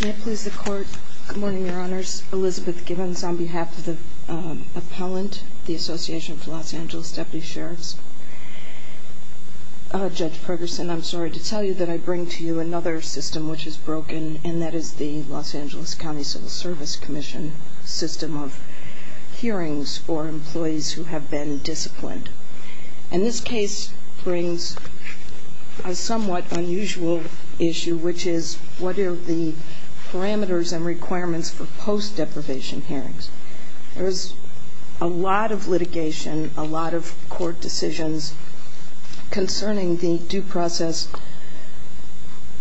May I please the court? Good morning, your honors. Elizabeth Givens on behalf of the appellant, the Association for Los Angeles Deputy Sheriffs. Judge Pergerson, I'm sorry to tell you that I bring to you another system which is broken and that is the Los Angeles County Civil Service Commission system of hearings for employees who have been disciplined. And this case brings a somewhat unusual issue, which is what are the parameters and requirements for post deprivation hearings? There's a lot of litigation, a lot of court decisions concerning the due process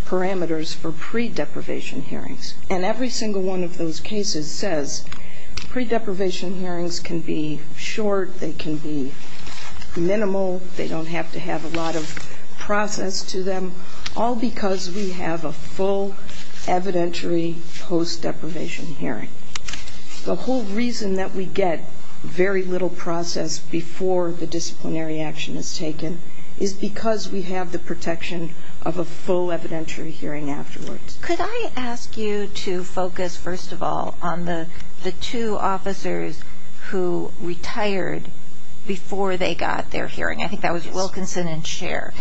parameters for pre-deprivation hearings. And every single one of those cases says pre-deprivation hearings can be short, they can be minimal, they don't have to have a lot of process to them, all because we have a full evidentiary post deprivation hearing. The whole reason that we get very little process before the disciplinary action is taken is because we have the protection of a full evidentiary hearing afterwards. Could I ask you to focus, first of all, on the two officers who retired before they got their hearing? I think that was Wilkinson and Scher.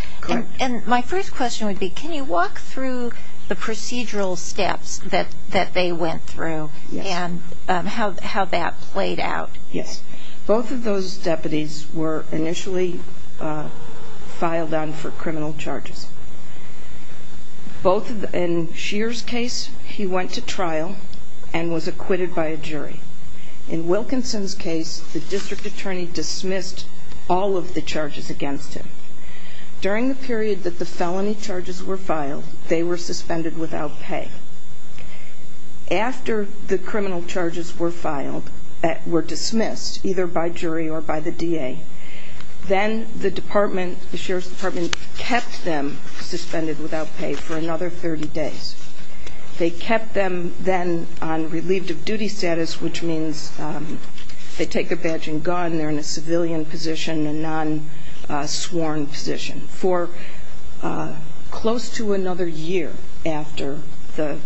And my first question would be, can you walk through the procedural steps that they went through and how that played out? Yes. Both of those deputies were initially filed on for criminal charges. In Scher's case, he went to trial and was acquitted by a jury. In Wilkinson's case, the district attorney dismissed all of the charges against him. During the period that the felony charges were filed, they were suspended without pay. After the criminal charges were filed, were dismissed, either by jury or by the DA, then the department, the Scher's department, kept them suspended without pay for another 30 days. They kept them then on relieved of duty status, which means they take their badge and gun, they're in a civilian position, a non-sworn position, for close to another year after the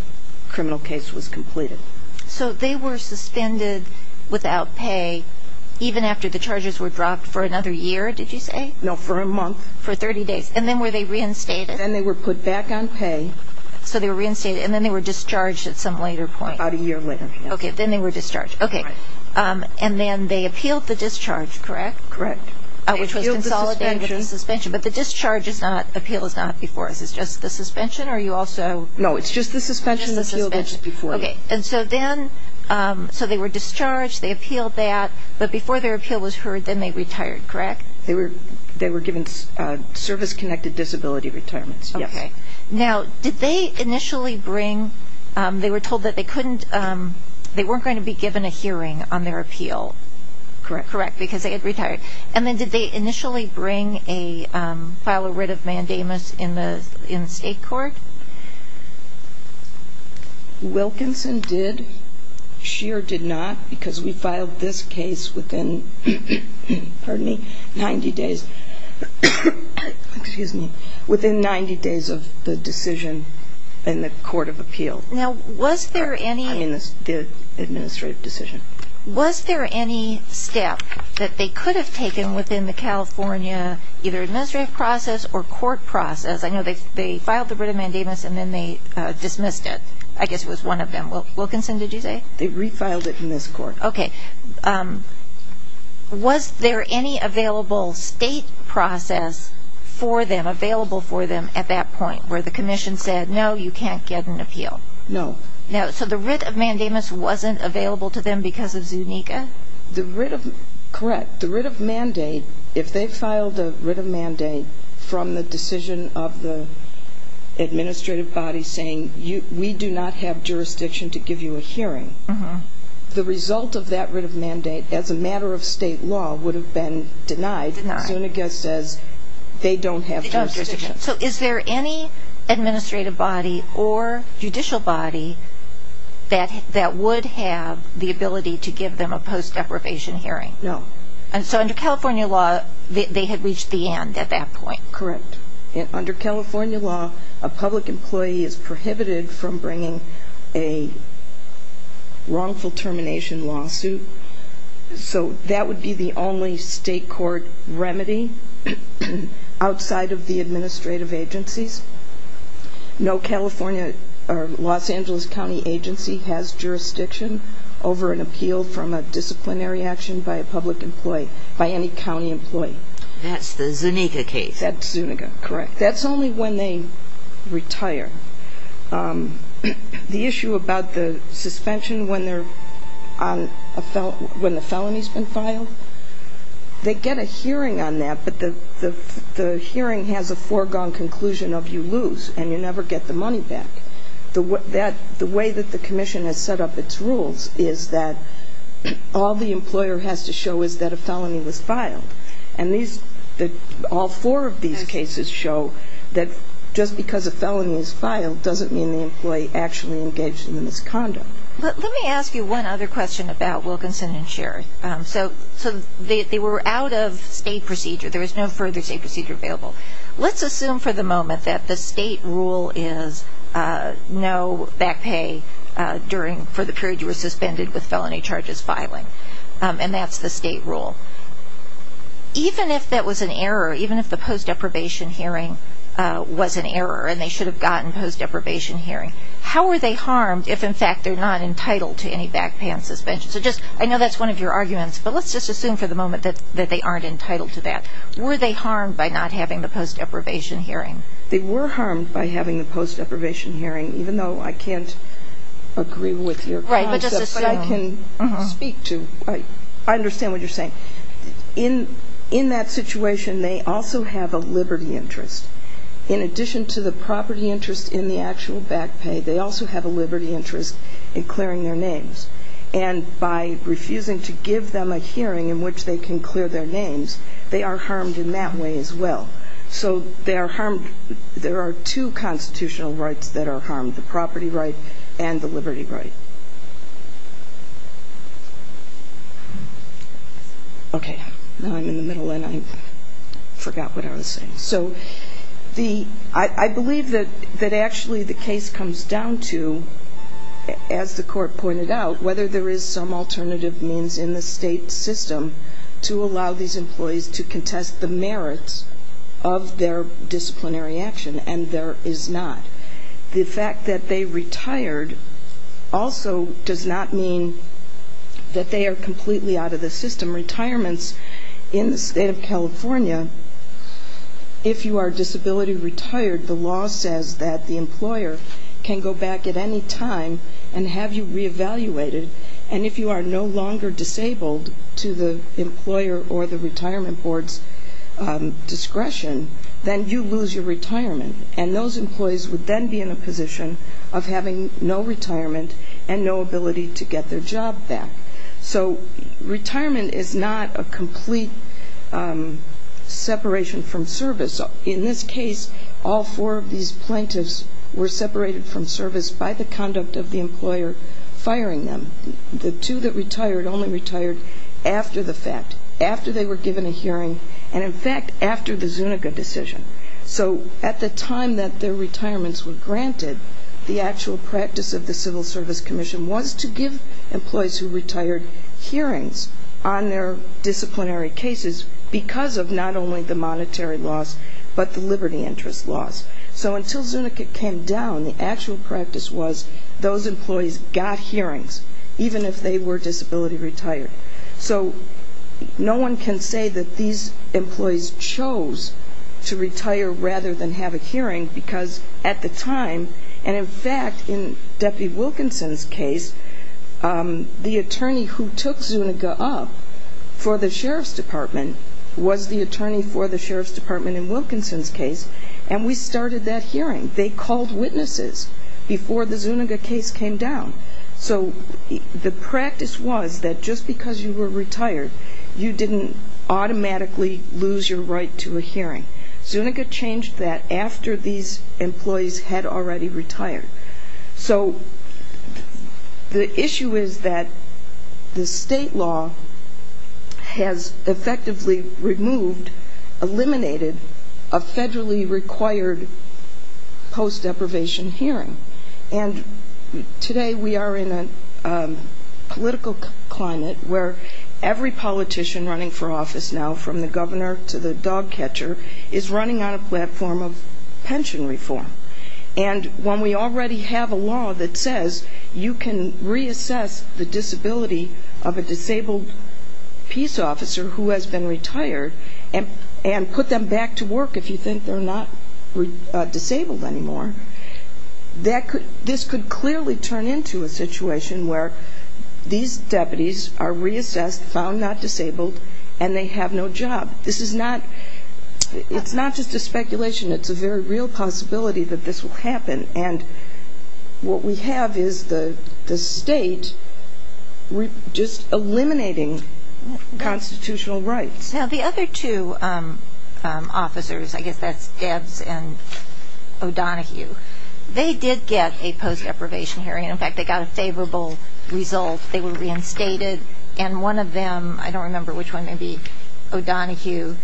criminal case was completed. So they were suspended without pay even after the charges were dropped for another year, did you say? No, for a month. For 30 days. And then were they reinstated? Then they were put back on pay. So they were reinstated. And then they were discharged at some later point. About a year later. Okay. Then they were discharged. Okay. And then they appealed the discharge, correct? Correct. Which was consolidated with the suspension. But the discharge appeal is not before us, it's just the suspension? Or are you also... No, it's just the suspension appeal that's before you. And so then, so they were discharged, they appealed that, but before their appeal was heard, then they retired, correct? They were given service-connected disability retirements, yes. Okay. Now, did they initially bring, they were told that they couldn't, they weren't going to be given a hearing on their appeal. Correct. Correct. Because they had retired. And then did they initially bring a, file a writ of mandamus in the state court? Wilkinson did. Scheer did not, because we filed this case within, pardon me, 90 days. Excuse me. Within 90 days of the decision in the court of appeal. Now, was there any... I mean the administrative decision. Was there any step that they could have taken within the California either administrative process or court process? I know they filed the writ of mandamus and then they dismissed it. I guess it was one of them. Wilkinson, did you say? They refiled it in this court. Okay. Was there any available state process for them, available for them at that point where the commission said no, you can't get an appeal? No. So the writ of mandamus wasn't available to them because of Zuniga? The writ of, correct, the writ of mandate, if they filed a writ of mandate from the decision of the administrative body saying we do not have jurisdiction to give you a hearing, the result of that writ of mandate as a matter of state law would have been denied. Zuniga says they don't have jurisdiction. So is there any administrative body or judicial body that would have the ability to give them a post deprivation hearing? No. And so under California law they had reached the end at that point? Correct. Under California law a public employee is subject to a wrongful termination lawsuit. So that would be the only state court remedy outside of the administrative agencies. No California or Los Angeles County agency has jurisdiction over an appeal from a disciplinary action by a public employee, by any county employee. That's the Zuniga case? That's Zuniga, correct. That's only when they retire. The issue about the suspension when the felony's been filed, they get a hearing on that, but the hearing has a foregone conclusion of you lose and you never get the money back. The way that the commission has set up its rules is that all the these cases show that just because a felony is filed doesn't mean the employee actually engaged in the misconduct. But let me ask you one other question about Wilkinson and Sherriff. So they were out of state procedure. There was no further state procedure available. Let's assume for the moment that the state rule is no back pay during for the period you were suspended with felony charges filing. And that's the state rule. Even if that was an error, even if the post deprivation hearing was an error and they should have gotten post deprivation hearing, how are they harmed if in fact they're not entitled to any back pay and suspension? So just, I know that's one of your arguments, but let's just assume for the moment that they aren't entitled to that. Were they harmed by not having the post deprivation hearing? They were harmed by having the post deprivation hearing, even though I can't agree with your concept. Right, but just assume. But I can speak to, I understand what you're saying. In that situation, they also have a liberty interest. In addition to the property interest in the actual back pay, they also have a liberty interest in clearing their names. And by refusing to give them a hearing in which they can clear their names, they are harmed in that way as well. So they are harmed, there are two constitutional rights that are harmed, the property right and the liberty right. Okay, now I'm in the middle and I forgot what I was saying. So the, I believe that actually the case comes down to, as the court pointed out, whether there is some alternative means in the state system to allow these employees to contest the merits of their disciplinary action, and there is not. The fact that they retired also does not mean that they are completely out of the system. Retirements in the state of California, if you are disability retired, the law says that the employer can go back at any time and have you reevaluated. And if you are no longer disabled to the employer or the retirement board's discretion, then you lose your retirement. And those of having no retirement and no ability to get their job back. So retirement is not a complete separation from service. In this case, all four of these plaintiffs were separated from service by the conduct of the employer firing them. The two that retired only retired after the fact, after they were given a hearing, and in fact, after the Zuniga decision. So at the time that their the actual practice of the Civil Service Commission was to give employees who retired hearings on their disciplinary cases because of not only the monetary loss, but the liberty interest loss. So until Zuniga came down, the actual practice was those employees got hearings, even if they were disability retired. So no one can say that these employees chose to retire rather than have a hearing because at the time, and in fact, in Deputy Wilkinson's case, the attorney who took Zuniga up for the Sheriff's Department was the attorney for the Sheriff's Department in Wilkinson's case, and we started that hearing. They called witnesses before the Zuniga case came down. So the practice was that just because you were retired, you didn't automatically lose your right to a hearing. Zuniga changed that after these employees had already retired. So the issue is that the state law has effectively removed, eliminated, a federally required post deprivation hearing. And today we are in a political climate where every politician running for office now, from the governor to the dog catcher, is running on a platform of pension reform. And when we already have a law that says you can reassess the disability of a disabled peace officer who has been retired and put them back to work if you think they're not disabled anymore, this could clearly turn into a situation where these deputies are reassessed, found not disabled, and they have no job. This is not, it's not just a speculation. It's a very real possibility that this will happen. And what we have is the state just eliminating constitutional rights. Now the other two officers, I guess that's Debs and O'Donohue, they did get a favorable result. They were reinstated. And one of them, I don't remember which one, maybe O'Donohue,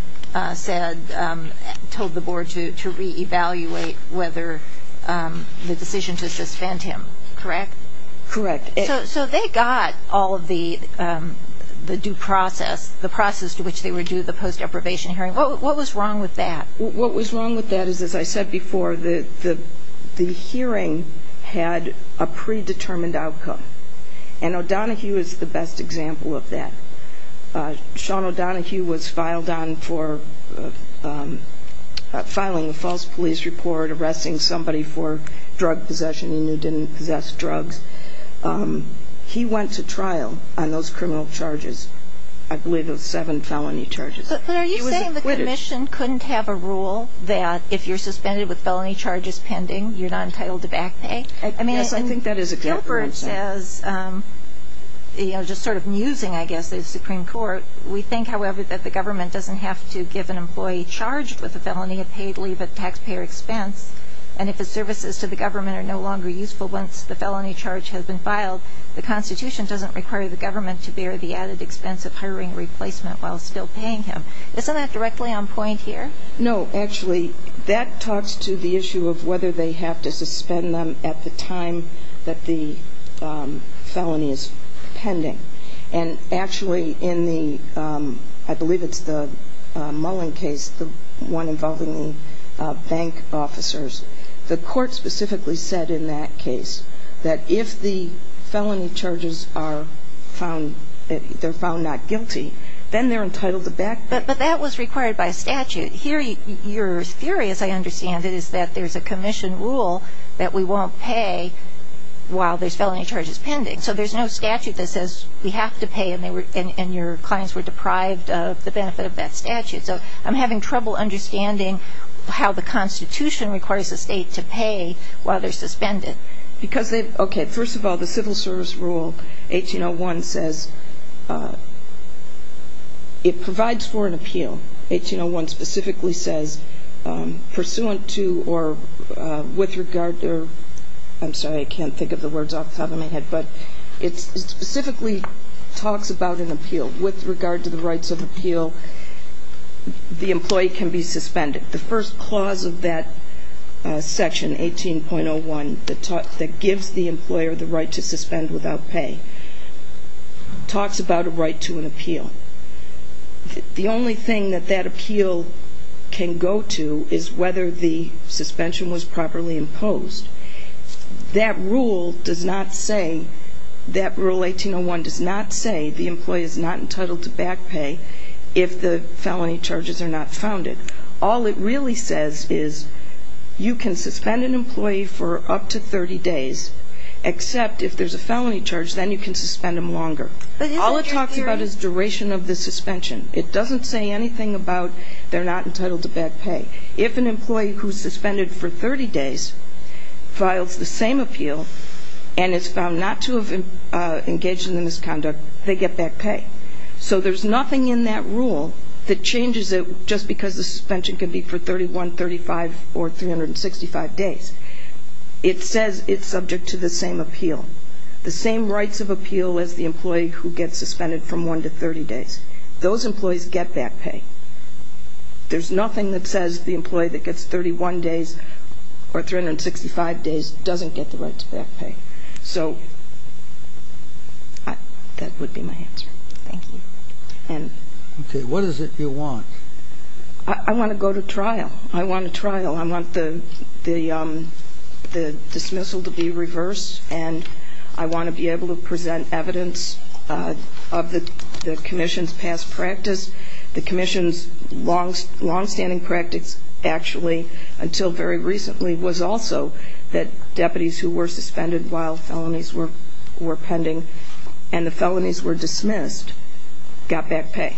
said, told the board to re-evaluate whether the decision to suspend him, correct? Correct. So they got all of the due process, the process to which they were due the post deprivation hearing. What was wrong with that? What was wrong with that is, as I said before, the hearing had a predetermined outcome. And O'Donohue is the best example of that. Sean O'Donohue was filed on for filing a false police report, arresting somebody for drug possession he knew didn't possess drugs. He went to trial on those criminal charges. I believe it was seven felony charges. But are you saying the commission couldn't have a rule that if you're suspended with felony charges pending, you're not entitled to back pay? I mean, Gilbert says, you know, just sort of musing, I guess, the Supreme Court, we think, however, that the government doesn't have to give an employee charged with a felony a paid leave at taxpayer expense. And if the services to the government are no longer useful once the felony charge has been filed, the Constitution doesn't require the government to bear the added expense of hiring a replacement while still paying him. Isn't that directly on point here? No, actually, that talks to the issue of whether they have to suspend them at the time that the felony is pending. And actually, in the, I believe it's the Mullen case, the one involving the bank officers, the court specifically said in that case that if the felony charges are found, they're found not guilty, then they're entitled to back pay. But that was required by statute. Here, your theory, as I understand it, is that there's a commission rule that we won't pay while there's felony charges pending. So there's no statute that says we have to pay, and your clients were deprived of the benefit of that statute. So I'm having trouble understanding how the Constitution requires the state to pay while they're suspended. Because they've, okay, first of all, the Civil Service rule, 1801, says, it provides for an appeal. 1801 specifically says, pursuant to or with regard to, I'm sorry, I can't think of the words off the top of my head, but it specifically talks about an appeal. With regard to the rights of appeal, the gives the employer the right to suspend without pay. Talks about a right to an appeal. The only thing that that appeal can go to is whether the suspension was properly imposed. That rule does not say, that rule 1801 does not say the employee is not entitled to back pay if the felony charges are not founded. All it really says is, you can suspend an employee for up to 30 days, except if there's a felony charge, then you can suspend them longer. All it talks about is duration of the suspension. It doesn't say anything about they're not entitled to back pay. If an employee who's suspended for 30 days files the same appeal, and is found not to have engaged in the misconduct, they get back pay. So there's nothing in that rule that changes it just because the suspension can be for 31, 35, or 365 days. It says it's subject to the same appeal. The same rights of appeal as the employee who gets suspended from one to 30 days. Those employees get back pay. There's nothing that says the employee that gets 31 days or 365 days doesn't get the right to back pay. So that would be my answer. Thank you. Okay. What is it you want? I want to go to trial. I want a trial. I want the dismissal to be reversed, and I want to be able to present evidence of the commission's past practice. The commission's longstanding practice, actually, until very recently, was also that deputies who were suspended while felonies were pending and the rest got back pay.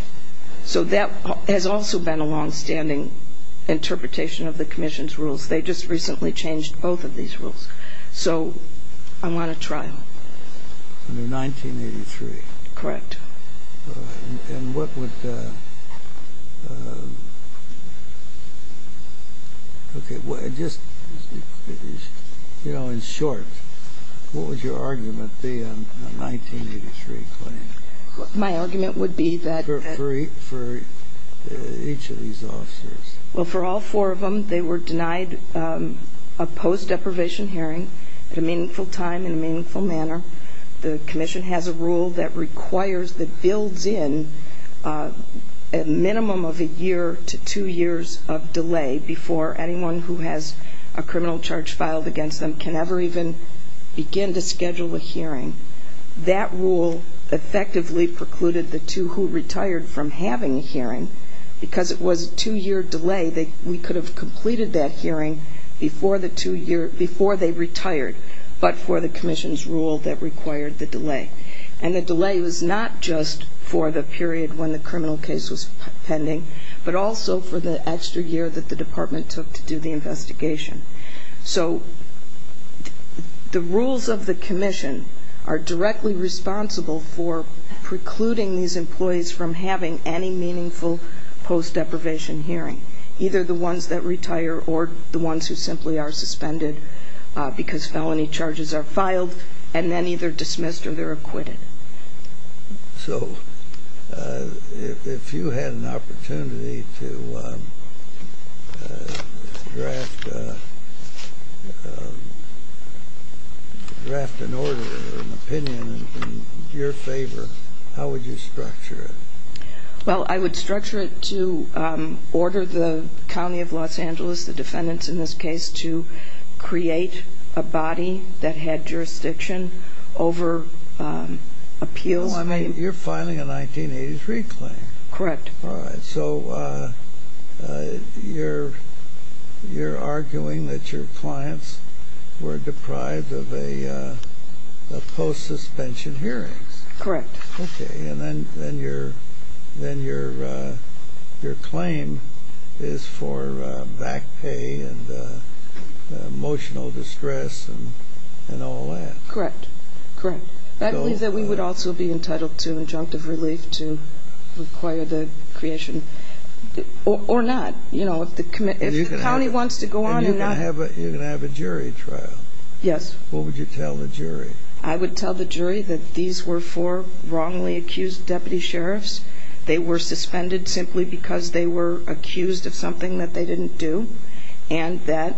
So that has also been a longstanding interpretation of the commission's rules. They just recently changed both of these rules. So I want a trial. Under 1983? Correct. And what would the, okay, just, you know, in short, what would your argument be on a 1983 claim? My argument would be that... For each of these officers. Well, for all four of them, they were denied a post-deprivation hearing at a meaningful time in a meaningful manner. The commission has a rule that requires, that builds in a minimum of a year to two years of delay before anyone who has a criminal charge filed against them can ever even begin to effectively precluded the two who retired from having a hearing because it was a two-year delay. We could have completed that hearing before they retired, but for the commission's rule that required the delay. And the delay was not just for the period when the criminal case was pending, but also for the extra year that the department took to do the investigation. So the rules of the commission are directly responsible for precluding these employees from having any meaningful post-deprivation hearing, either the ones that retire or the ones who simply are suspended because felony charges are filed and then either dismissed or they're acquitted. So, if you had an opportunity to draft an order or an opinion in your favor, how would you structure it? Well, I would structure it to order the County of Los Angeles, the defendants in this case, to create a body that had jurisdiction over appeals. Oh, I mean, you're filing a 1983 claim. Correct. All right. So, you're arguing that your clients were deprived of a post-suspension hearings. Correct. Okay, and then your claim is for back pay and emotional distress and all that. Correct. I believe that we would also be entitled to injunctive relief to require the creation, or not. If the county wants to go on and not... And you're going to have a jury trial. Yes. What would you tell the jury? I would tell the jury that these were four wrongly accused deputy sheriffs. They were suspended simply because they were accused of something that they didn't do and that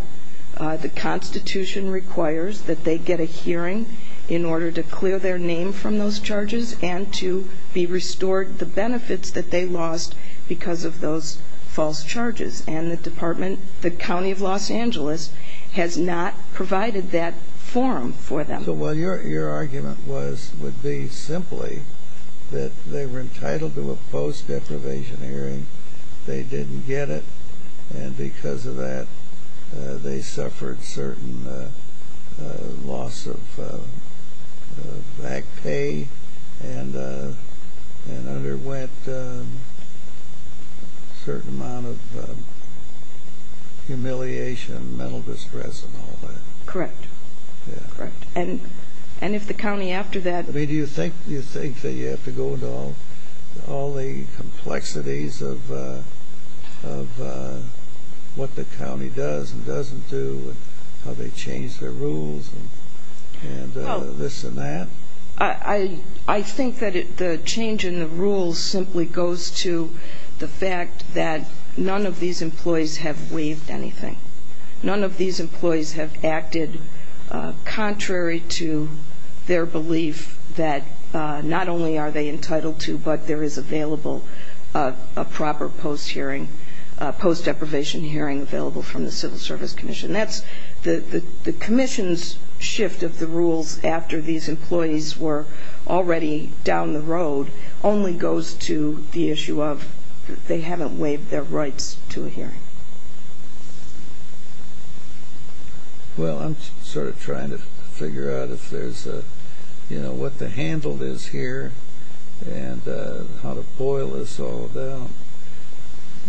the Constitution requires that they get a hearing in order to clear their name from those charges and to be restored the benefits that they lost because of those false charges. And the department, the County of Los Angeles, has not provided that forum for them. So, your argument would be simply that they were entitled to a post-deprivation hearing, they didn't get it, and because of that they suffered certain loss of back pay and underwent a certain amount of humiliation, mental distress and all that. Correct. And if the county after that... Do you think that you have to go into all the complexities of what the county does and doesn't do and how they change their rules and this and that? I think that the change in the rules simply goes to the fact that none of these employees have waived anything. None of these employees have acted contrary to their belief that not only are they entitled to, but there is available a proper post-deprivation hearing available from the Civil Service Commission. The commission's shift of the rules after these employees were already down the road only goes to the issue of they haven't waived their rights to a hearing. Well, I'm sort of trying to figure out if there's a... You know, what the handle is here and how to boil this all down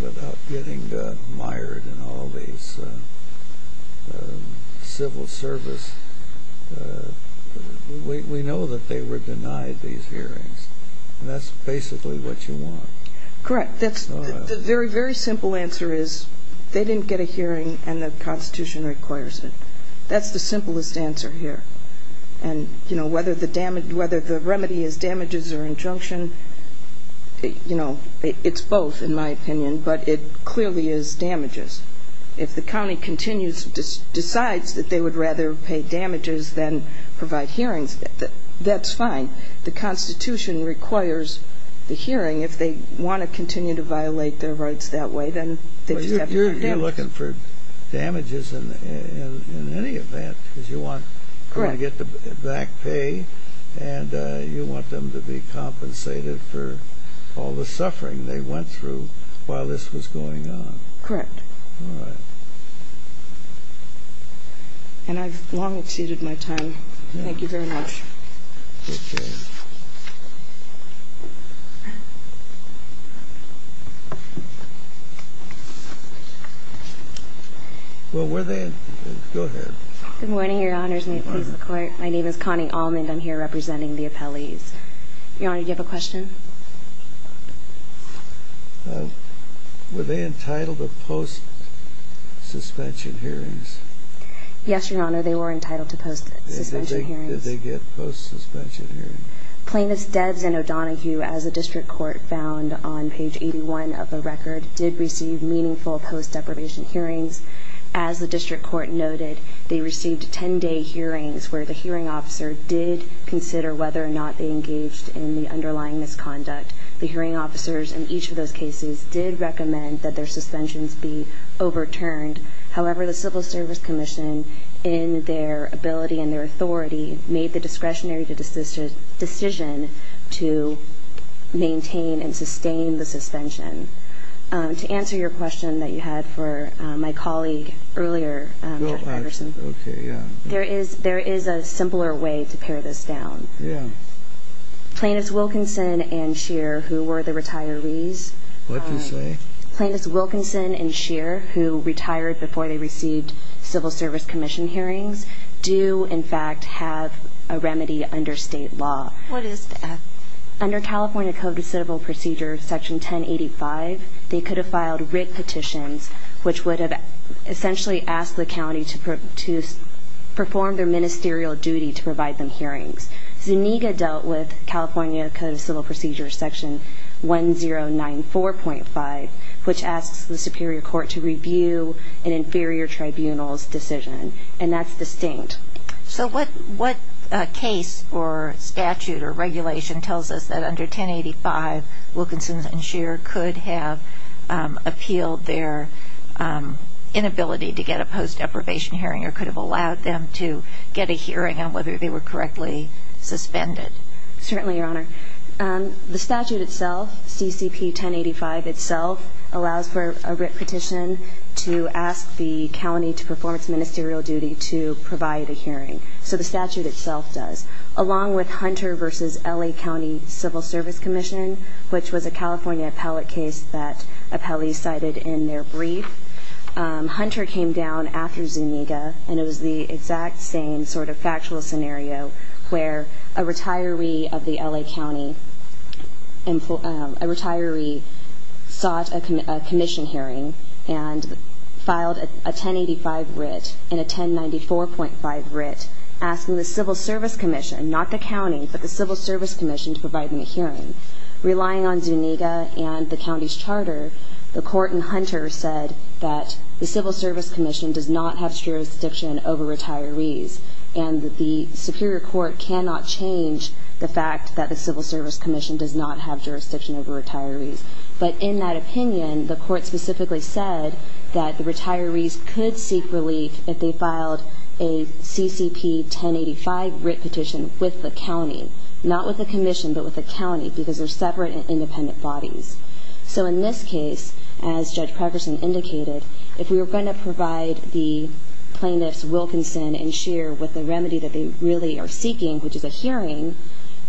without getting mired in all these Civil Service... And that's basically what you want. Correct. The very, very simple answer is they didn't get a hearing and the Constitution requires it. That's the simplest answer here. And, you know, whether the remedy is damages or injunction, you know, it's both in my opinion, but it clearly is damages. If the county continues, decides that they would rather pay damages than provide hearings, that's fine. The Constitution requires the hearing. If they want to continue to violate their rights that way, then they just have to pay damages. You're looking for damages in any event because you want them to get the back pay and you want them to be compensated for all the suffering they went through while this was going on. Correct. All right. And I've long exceeded my time. Thank you very much. Okay. Well, were they... Go ahead. Good morning, Your Honors. May it please the Court. My name is Connie Almond. I'm here representing the appellees. Your Honor, do you have a question? Were they entitled to post-suspension hearings? Yes, Your Honor, they were entitled to post-suspension hearings. Did they get post-suspension hearings? Plaintiffs Debs and O'Donohue, as the District Court found on page 81 of the record, did receive meaningful post-deprivation hearings. As the District Court noted, they received 10-day hearings where the hearing officer did consider whether or not they engaged in the underlying misconduct. The hearing officers in each of those cases did recommend that their suspensions be overturned. However, the Civil Service Commission, in their ability and their authority, made the discretionary decision to maintain and sustain the suspension. To answer your question that you had for my colleague earlier, Judge Patterson, there is a simpler way to pare this down. Yeah. Plaintiffs Wilkinson and Scheer, who were the retirees... What'd you say? Plaintiffs Wilkinson and Scheer, who retired before they received Civil Service Commission hearings, do, in fact, have a remedy under state law. What is that? Under California Code of Civil Procedures, Section 1085, they could have filed writ petitions, which would have essentially asked the county to perform their ministerial duty to provide them hearings. Zuniga dealt with California Code of Civil Procedures, Section 1094.5, which asks the superior court to review an inferior tribunal's decision. And that's distinct. So what case or statute or regulation tells us that under 1085, Wilkinson and Scheer could have appealed their inability to get a post-approbation hearing or could have allowed them to get a hearing on whether they were correctly suspended? Certainly, Your Honor. The statute itself, CCP 1085 itself, allows for a writ petition to ask the county to perform its ministerial duty to provide a hearing. So the statute itself does. Along with Hunter v. L.A. County Civil Service Commission, which was a California appellate case that appellees cited in their brief, Hunter came down after Zuniga, and it was the exact same sort of factual scenario where a retiree of the L.A. County, a retiree sought a commission hearing and filed a 1085 writ in a 1094.5 writ asking the Civil Service Commission, not the county, but the Civil Service Commission, to provide them a hearing. Relying on Zuniga and the county's charter, the court in Hunter said that the Civil Service Commission does not have jurisdiction over retirees, and the Superior Court cannot change the fact that the Civil Service Commission does not have jurisdiction over retirees. But in that opinion, the court specifically said that the retirees could seek relief if they filed a CCP 1085 writ petition with the county, not with the commission, but with the county, because they're separate and independent bodies. So in this case, as Judge Pregerson indicated, if we were going to provide the plaintiffs Wilkinson and Scheer with the remedy that they really are seeking, which is a hearing,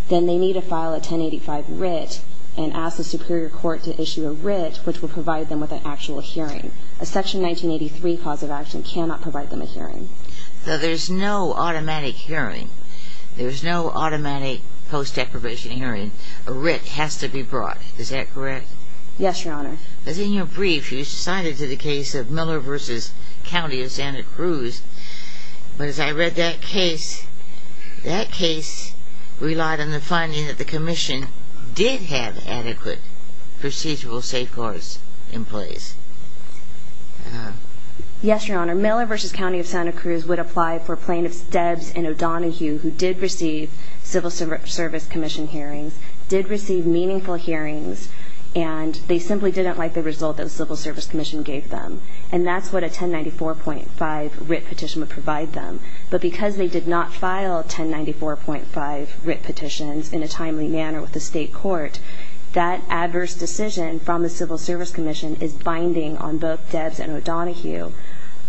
then they need to file a 1085 writ and ask the Superior Court to issue a writ, which will provide them with an actual hearing. Now, there's no automatic hearing. There's no automatic post-deprivation hearing. A writ has to be brought. Is that correct? Yes, Your Honor. Because in your brief, you cited the case of Miller v. County of Santa Cruz. But as I read that case, that case relied on the finding that the commission did have adequate procedural safeguards in place. Yes, Your Honor. Miller v. County of Santa Cruz would apply for plaintiffs Debs and O'Donohue, who did receive Civil Service Commission hearings, did receive meaningful hearings, and they simply didn't like the result that the Civil Service Commission gave them. And that's what a 1094.5 writ petition would provide them. But because they did not file 1094.5 writ petitions in a timely manner with the state court, that adverse decision from the Civil Service Commission is binding on both Debs and O'Donohue.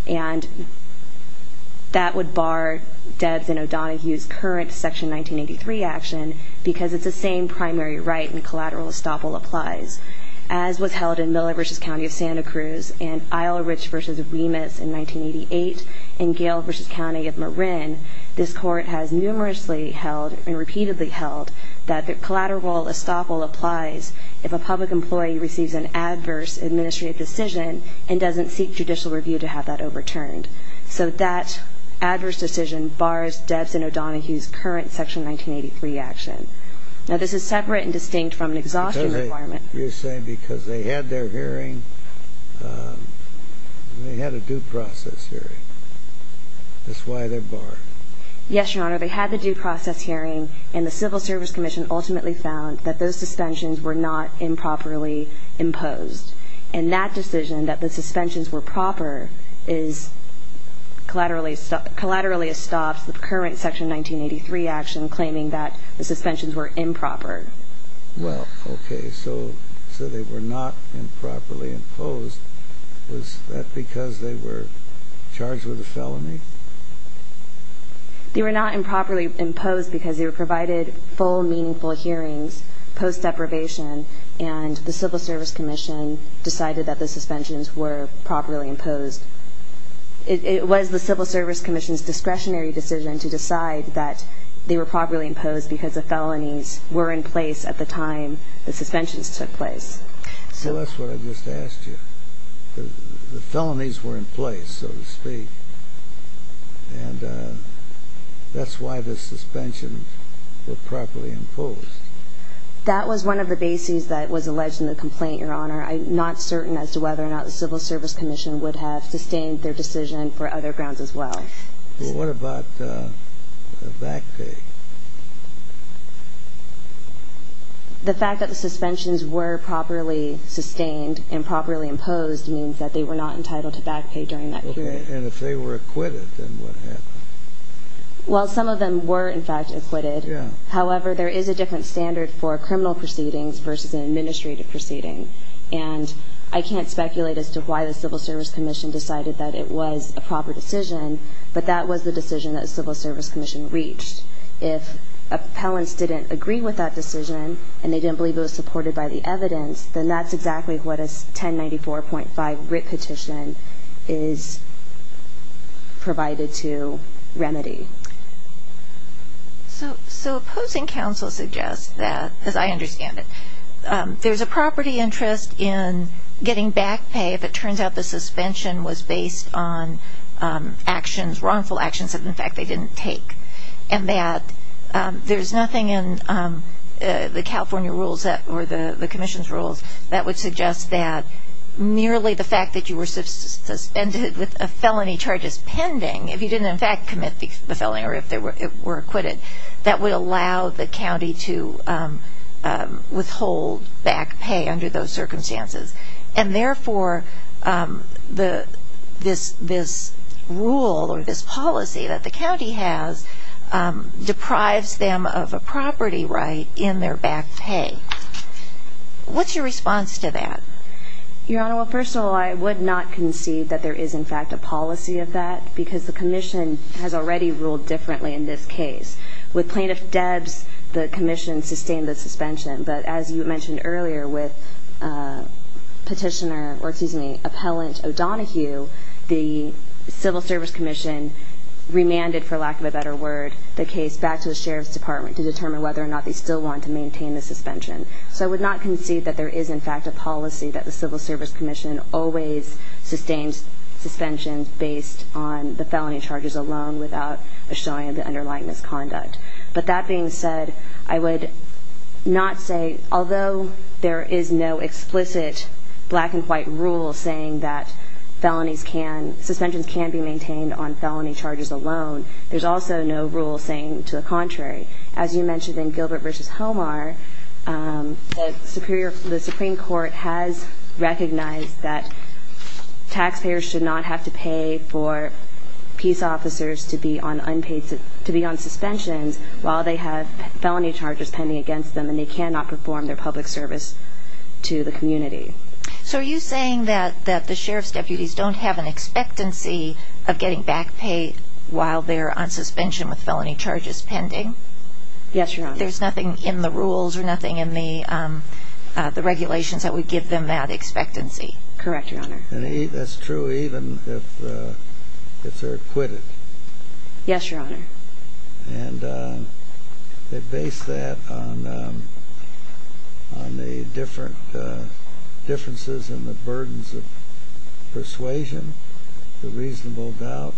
And that would bar Debs and O'Donohue's current Section 1983 action because it's the same primary writ and collateral estoppel applies. As was held in Miller v. County of Santa Cruz and Eilerich v. Remus in 1988 and Gale v. County of Marin, this Court has numerously held and repeatedly held that the collateral estoppel applies if a public employee receives an adverse administrative decision and doesn't seek judicial review to have that overturned. So that adverse decision bars Debs and O'Donohue's current Section 1983 action. Now, this is separate and distinct from an exhaustion requirement. You're saying because they had their hearing, they had a due process hearing. That's why they're barred. Yes, Your Honor. They had the due process hearing, and the Civil Service Commission ultimately found that those suspensions were not improperly imposed. And that decision, that the suspensions were proper, collaterally stops the current Section 1983 action claiming that the suspensions were improper. Well, okay. So they were not improperly imposed. Was that because they were charged with a felony? They were not improperly imposed because they were provided full, meaningful hearings post-deprivation, and the Civil Service Commission decided that the suspensions were properly imposed. It was the Civil Service Commission's discretionary decision to decide that they were properly imposed because the felonies were in place at the time the suspensions took place. So that's what I just asked you. The felonies were in place, so to speak, and that's why the suspensions were properly imposed. That was one of the bases that was alleged in the complaint, Your Honor. I'm not certain as to whether or not the Civil Service Commission would have sustained their decision for other grounds as well. Well, what about the back pay? The fact that the suspensions were properly sustained and properly imposed means that they were not entitled to back pay during that period. Okay, and if they were acquitted, then what happened? Well, some of them were, in fact, acquitted. Yeah. However, there is a different standard for criminal proceedings versus an administrative proceeding, and I can't speculate as to why the Civil Service Commission decided that it was a proper decision, but that was the decision that the Civil Service Commission reached. If appellants didn't agree with that decision and they didn't believe it was supported by the evidence, then that's exactly what a 1094.5 writ petition is provided to remedy. So opposing counsel suggests that, as I understand it, there's a property interest in getting back pay if it turns out the suspension was based on wrongful actions that, in fact, they didn't take, and that there's nothing in the California rules or the Commission's rules that would suggest that merely the fact that you were suspended with felony charges pending, if you didn't, in fact, commit the felony or if it were acquitted, that would allow the county to withhold back pay under those circumstances. And therefore, this rule or this policy that the county has deprives them of a property right in their back pay. What's your response to that? Your Honor, well, first of all, I would not concede that there is, in fact, a policy of that because the Commission has already ruled differently in this case. With Plaintiff Debs, the Commission sustained the suspension, but as you mentioned earlier with Petitioner or, excuse me, Appellant O'Donohue, the Civil Service Commission remanded, for lack of a better word, the case back to the Sheriff's Department to determine whether or not they still want to maintain the suspension. So I would not concede that there is, in fact, a policy that the Civil Service Commission always sustains suspensions based on the felony charges alone without a showing of the underlying misconduct. But that being said, I would not say, although there is no explicit black and white rule saying that suspensions can be maintained on felony charges alone, there's also no rule saying to the contrary. As you mentioned in Gilbert v. Homar, the Supreme Court has recognized that taxpayers should not have to pay for peace officers to be on suspensions while they have felony charges pending against them, and they cannot perform their public service to the community. So are you saying that the Sheriff's deputies don't have an expectancy of getting back pay while they're on suspension with felony charges pending? Yes, Your Honor. There's nothing in the rules or nothing in the regulations that would give them that expectancy? Correct, Your Honor. Yes, Your Honor. And they base that on the different differences in the burdens of persuasion, the reasonable doubt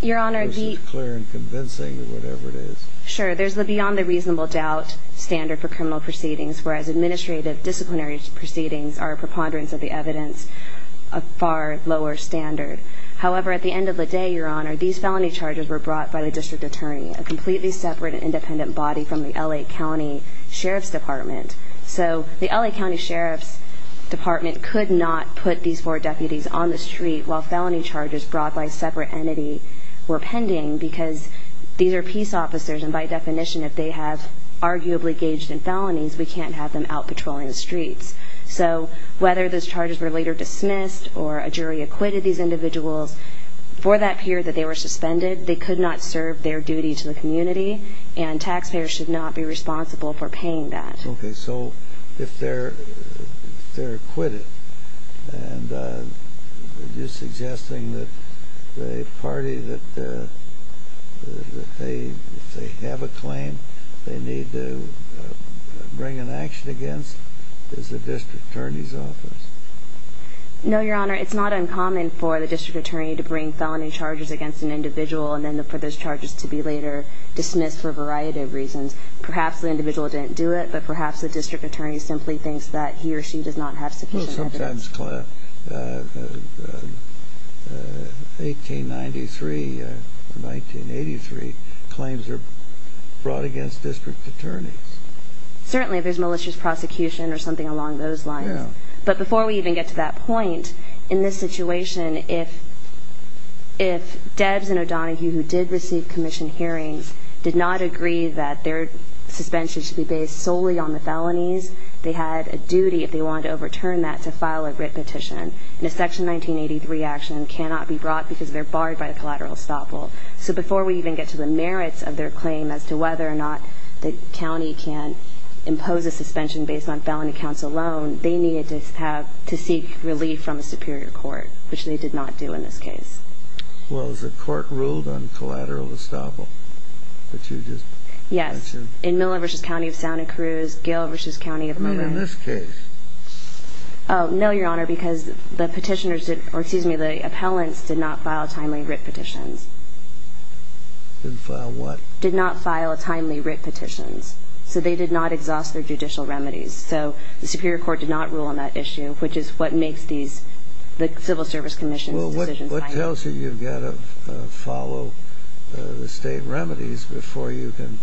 versus clear and convincing or whatever it is. Sure. There's the beyond the reasonable doubt standard for criminal proceedings, whereas administrative disciplinary proceedings are a preponderance of the evidence, a far lower standard. However, at the end of the day, Your Honor, these felony charges were brought by the district attorney, a completely separate and independent body from the L.A. County Sheriff's Department. So the L.A. County Sheriff's Department could not put these four deputies on the street while felony charges brought by a separate entity were pending because these are peace officers, and by definition, if they have arguably engaged in felonies, we can't have them out patrolling the streets. So whether those charges were later dismissed or a jury acquitted these individuals, for that period that they were suspended, they could not serve their duty to the community, and taxpayers should not be responsible for paying that. Okay, so if they're acquitted, and you're suggesting that a party that they have a claim they need to bring an action against is the district attorney's office? No, Your Honor. It's not uncommon for the district attorney to bring felony charges against an individual and then for those charges to be later dismissed for a variety of reasons. Perhaps the individual didn't do it, but perhaps the district attorney simply thinks that he or she does not have sufficient evidence. Well, sometimes 1893 or 1983 claims are brought against district attorneys. Certainly, if there's malicious prosecution or something along those lines. But before we even get to that point, in this situation, if Debs and O'Donohue, who did receive commission hearings, did not agree that their suspension should be based solely on the felonies, they had a duty, if they wanted to overturn that, to file a writ petition. And a Section 1983 action cannot be brought because they're barred by the collateral estoppel. So before we even get to the merits of their claim as to whether or not the county can impose a suspension based on felony counts alone, they needed to seek relief from a superior court, which they did not do in this case. Well, is the court ruled on collateral estoppel that you just mentioned? Yes. In Miller v. County of Santa Cruz, Gill v. County of Monroe. I mean, in this case. No, Your Honor, because the appellants did not file timely writ petitions. Did not file what? Did not file timely writ petitions. So they did not exhaust their judicial remedies. So the superior court did not rule on that issue, which is what makes the Civil Service Commission's decision final. Well, what tells you you've got to follow the state remedies before you can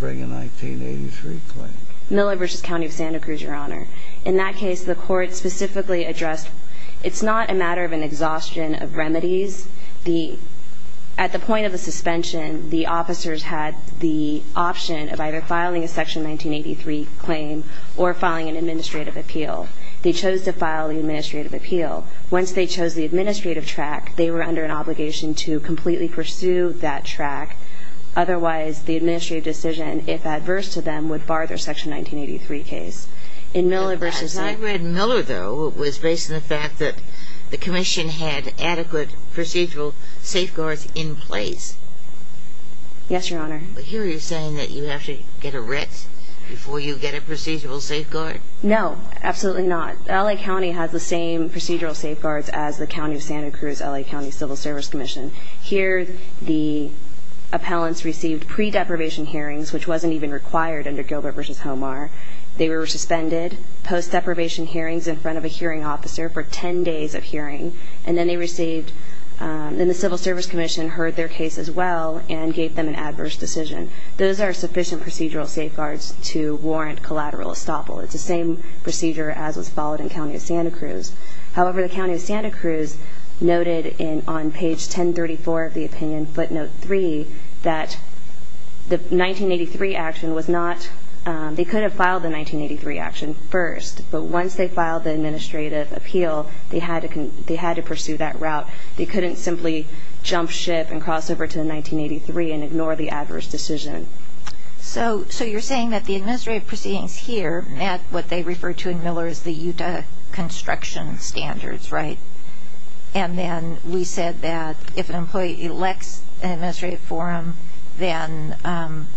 bring a 1983 claim? Miller v. County of Santa Cruz, Your Honor. In that case, the court specifically addressed it's not a matter of an exhaustion of remedies. At the point of the suspension, the officers had the option of either filing a Section 1983 claim or filing an administrative appeal. They chose to file the administrative appeal. Once they chose the administrative track, they were under an obligation to completely pursue that track. Otherwise, the administrative decision, if adverse to them, would bar their Section 1983 case. In Miller v. I read Miller, though, was based on the fact that the commission had adequate procedural safeguards in place. Yes, Your Honor. Here you're saying that you have to get a writ before you get a procedural safeguard? No, absolutely not. L.A. County has the same procedural safeguards as the County of Santa Cruz, L.A. County Civil Service Commission. Here, the appellants received pre-deprivation hearings, which wasn't even required under Gilbert v. Homar. They were suspended, post-deprivation hearings in front of a hearing officer for 10 days of hearing, and then they received the Civil Service Commission heard their case as well and gave them an adverse decision. Those are sufficient procedural safeguards to warrant collateral estoppel. It's the same procedure as was followed in County of Santa Cruz. However, the County of Santa Cruz noted on page 1034 of the opinion, footnote 3, that the 1983 action was not they could have filed the 1983 action first, but once they filed the administrative appeal, they had to pursue that route. They couldn't simply jump ship and cross over to 1983 and ignore the adverse decision. So you're saying that the administrative proceedings here met what they refer to in Miller as the Utah construction standards, right? And then we said that if an employee elects an administrative forum, then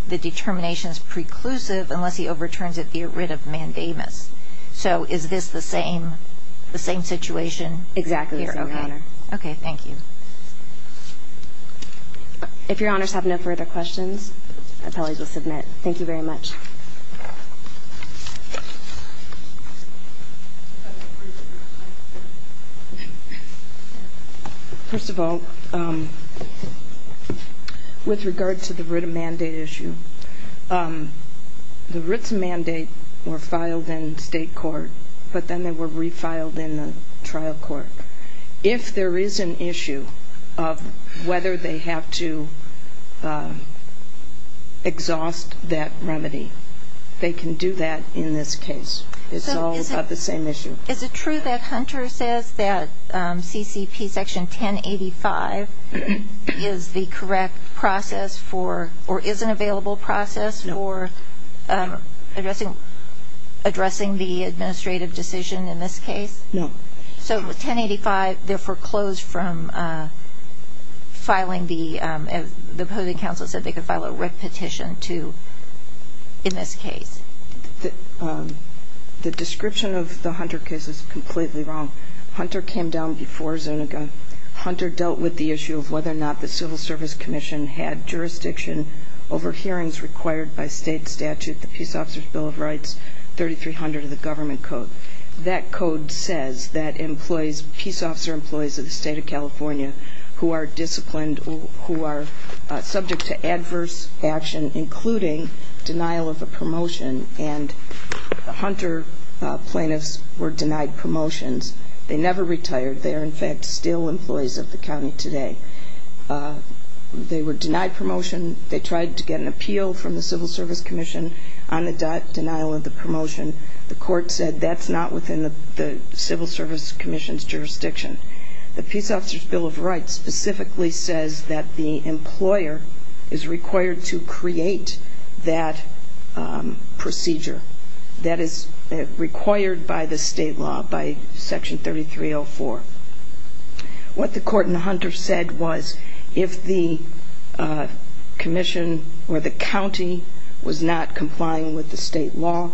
the determination is preclusive unless he overturns it via writ of mandamus. So is this the same situation here? Exactly the same, Your Honor. Okay, thank you. If Your Honors have no further questions, appellees will submit. Thank you very much. First of all, with regard to the writ of mandate issue, the writs of mandate were filed in state court, but then they were refiled in the trial court. If there is an issue of whether they have to exhaust that remedy, they can do that in this case. It's all about the same issue. Is it true that Hunter says that CCP Section 1085 is the correct process for, or is an available process for addressing the administrative decision in this case? No. So 1085, they're foreclosed from filing the, the public counsel said they could file a writ petition to, in this case. The description of the Hunter case is completely wrong. Hunter came down before Zoniga. Hunter dealt with the issue of whether or not the Civil Service Commission had jurisdiction over hearings required by state statute, the Peace Officer's Bill of Rights 3300 of the government code. That code says that employees, peace officer employees of the state of California who are disciplined, who are subject to adverse action, including denial of a promotion, and the Hunter plaintiffs were denied promotions. They never retired. They are, in fact, still employees of the county today. They were denied promotion. They tried to get an appeal from the Civil Service Commission on the denial of the promotion. The court said that's not within the Civil Service Commission's jurisdiction. The Peace Officer's Bill of Rights specifically says that the employer is required to create that procedure. That is required by the state law, by Section 3304. What the court in Hunter said was if the commission or the county was not complying with the state law,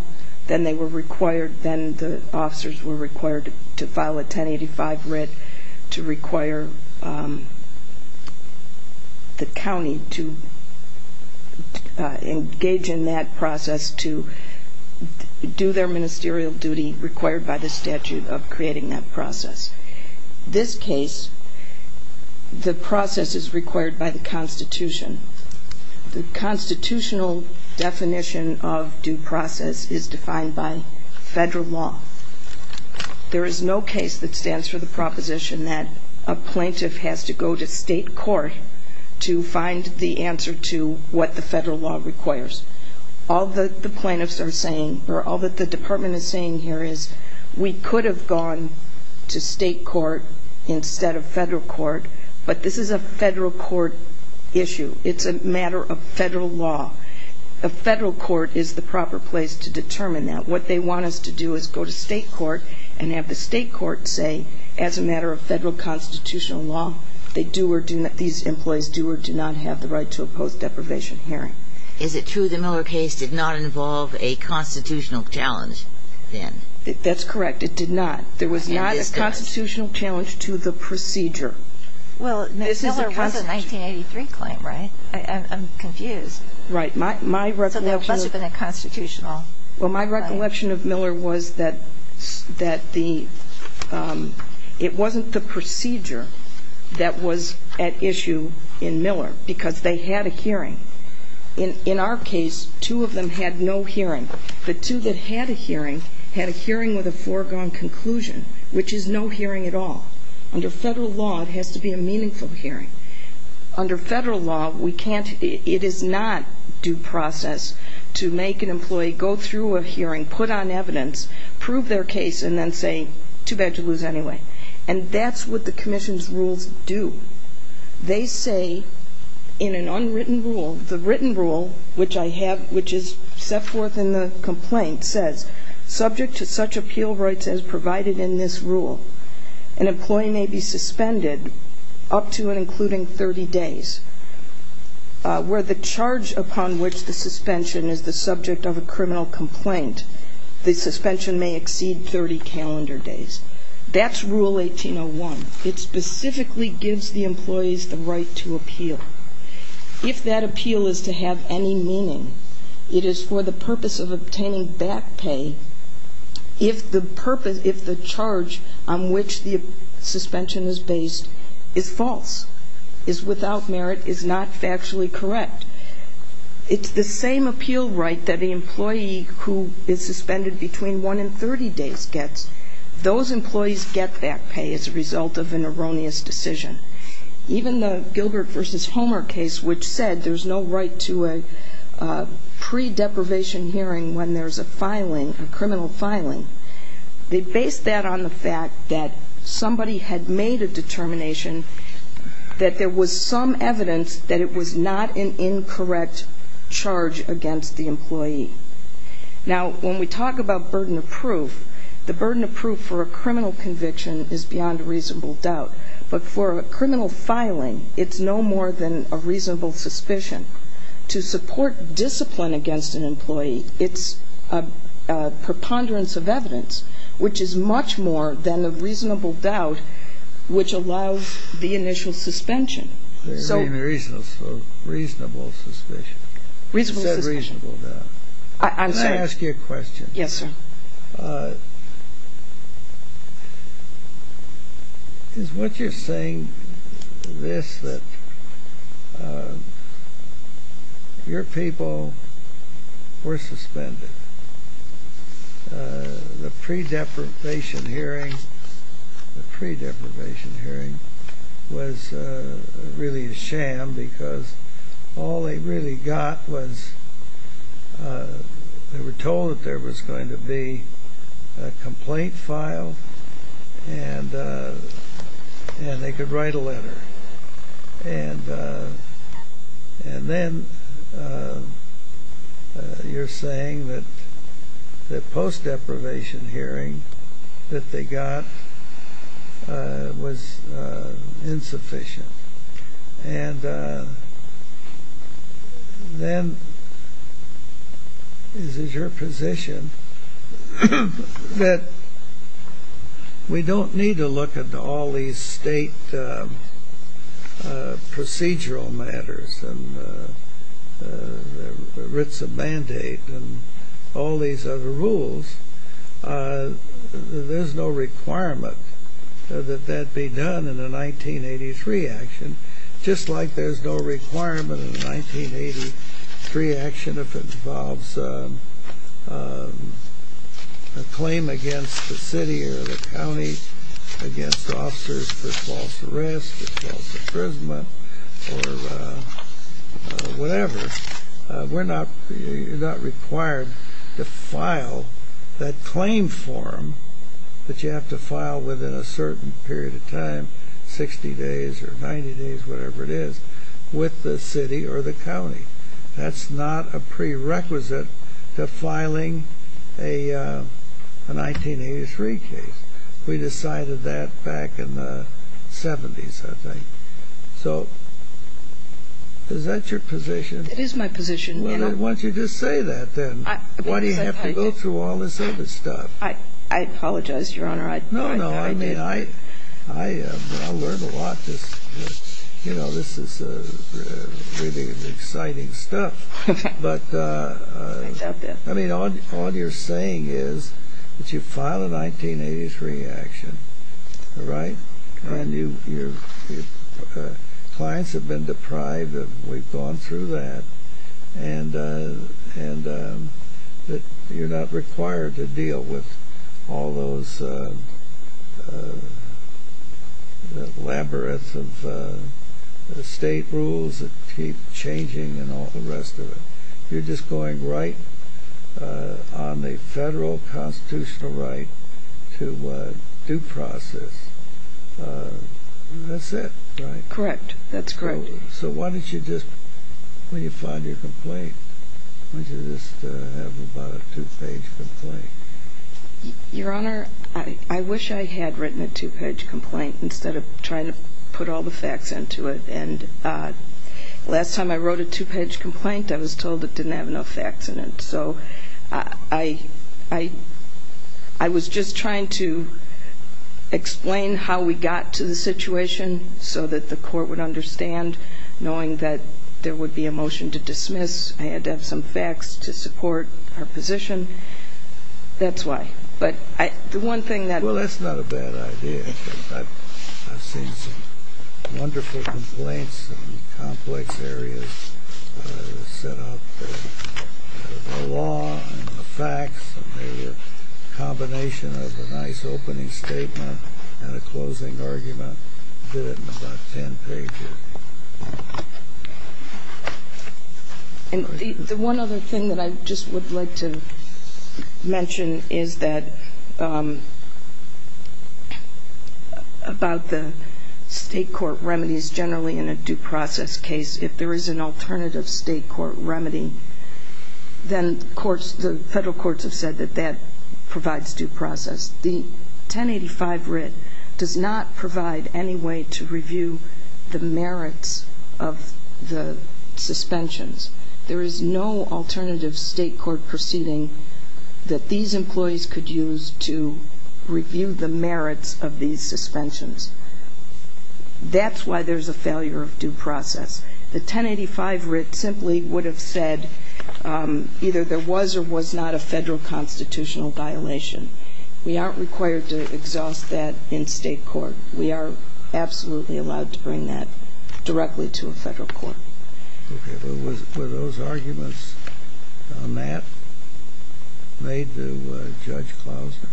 then they were required, then the officers were required to file a 1085 writ to require the county to engage in that process, to do their ministerial duty required by the statute of creating that process. This case, the process is required by the Constitution. The constitutional definition of due process is defined by federal law. There is no case that stands for the proposition that a plaintiff has to go to state court to find the answer to what the federal law requires. All that the plaintiffs are saying or all that the department is saying here is we could have gone to state court instead of federal court, but this is a federal court issue. It's a matter of federal law. A federal court is the proper place to determine that. What they want us to do is go to state court and have the state court say as a matter of federal constitutional law, they do or do not, these employees do or do not have the right to oppose deprivation hearing. Is it true the Miller case did not involve a constitutional challenge then? That's correct. It did not. There was not a constitutional challenge to the procedure. Well, Miller was a 1983 claim, right? I'm confused. Right. So there must have been a constitutional. Well, my recollection of Miller was that it wasn't the procedure that was at issue in Miller because they had a hearing. In our case, two of them had no hearing. The two that had a hearing had a hearing with a foregone conclusion, which is no hearing at all. Under federal law, it has to be a meaningful hearing. Under federal law, it is not due process to make an employee go through a hearing, put on evidence, prove their case, and then say, too bad to lose anyway. And that's what the commission's rules do. They say in an unwritten rule, the written rule, which is set forth in the complaint, says, subject to such appeal rights as provided in this rule, an employee may be suspended up to and including 30 days, where the charge upon which the suspension is the subject of a criminal complaint, the suspension may exceed 30 calendar days. That's Rule 1801. If that appeal is to have any meaning, it is for the purpose of obtaining back pay if the purpose, if the charge on which the suspension is based is false, is without merit, is not factually correct. It's the same appeal right that the employee who is suspended between 1 and 30 days gets. Those employees get back pay as a result of an erroneous decision. Even the Gilbert v. Homer case, which said there's no right to a pre-deprivation hearing when there's a filing, a criminal filing, they based that on the fact that somebody had made a determination that there was some evidence that it was not an incorrect charge against the employee. Now, when we talk about burden of proof, the burden of proof for a criminal conviction is beyond reasonable doubt. But for a criminal filing, it's no more than a reasonable suspicion. To support discipline against an employee, it's a preponderance of evidence, which is much more than a reasonable doubt, which allows the initial suspension. So reasonable suspicion. Reasonable suspicion. You said reasonable doubt. I'm sorry. Can I ask you a question? Yes, sir. Is what you're saying this, that your people were suspended? The pre-deprivation hearing, the pre-deprivation hearing was really a sham because all they really got was they were told that there was going to be a complaint filed, and they could write a letter. And then you're saying that the post-deprivation hearing that they got was insufficient. And then is it your position that we don't need to look at all these state procedural matters and the writs of mandate and all these other rules? There's no requirement that that be done in a 1983 action, just like there's no requirement in a 1983 action if it involves a claim against the city or the county, against officers for false arrest, false imprisonment, or whatever. You're not required to file that claim form that you have to file within a certain period of time, 60 days or 90 days, whatever it is, with the city or the county. That's not a prerequisite to filing a 1983 case. We decided that back in the 70s, I think. So is that your position? It is my position. Well, then, why don't you just say that, then? Why do you have to go through all this other stuff? I apologize, Your Honor. No, no. I mean, I learned a lot. You know, this is really exciting stuff. But, I mean, all you're saying is that you file a 1983 action, all right? And your clients have been deprived. We've gone through that. And you're not required to deal with all those labyrinths of state rules that keep changing and all the rest of it. You're just going right on the federal constitutional right to due process. That's it, right? Correct. That's correct. So why don't you just, when you file your complaint, why don't you just have about a two-page complaint? Your Honor, I wish I had written a two-page complaint instead of trying to put all the facts into it. And last time I wrote a two-page complaint, I was told it didn't have enough facts in it. So I was just trying to explain how we got to the situation so that the court would understand, knowing that there would be a motion to dismiss. I had to have some facts to support our position. That's why. But the one thing that- Well, that's not a bad idea. I've seen some wonderful complaints in complex areas set up. The law and the facts and the combination of a nice opening statement and a closing argument did it in about ten pages. The one other thing that I just would like to mention is that about the state court remedies generally in a due process case, if there is an alternative state court remedy, then the federal courts have said that that provides due process. The 1085 writ does not provide any way to review the merits of the suspensions. There is no alternative state court proceeding that these employees could use to review the merits of these suspensions. That's why there's a failure of due process. The 1085 writ simply would have said either there was or was not a federal constitutional violation. We aren't required to exhaust that in state court. We are absolutely allowed to bring that directly to a federal court. Okay. Were those arguments on that made to Judge Klausner?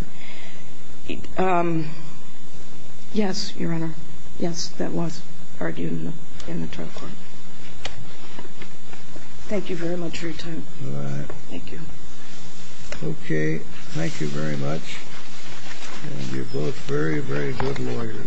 Yes, Your Honor. Yes, that was argued in the trial court. Thank you very much for your time. All right. Thank you. Okay. Thank you very much. And you're both very, very good lawyers.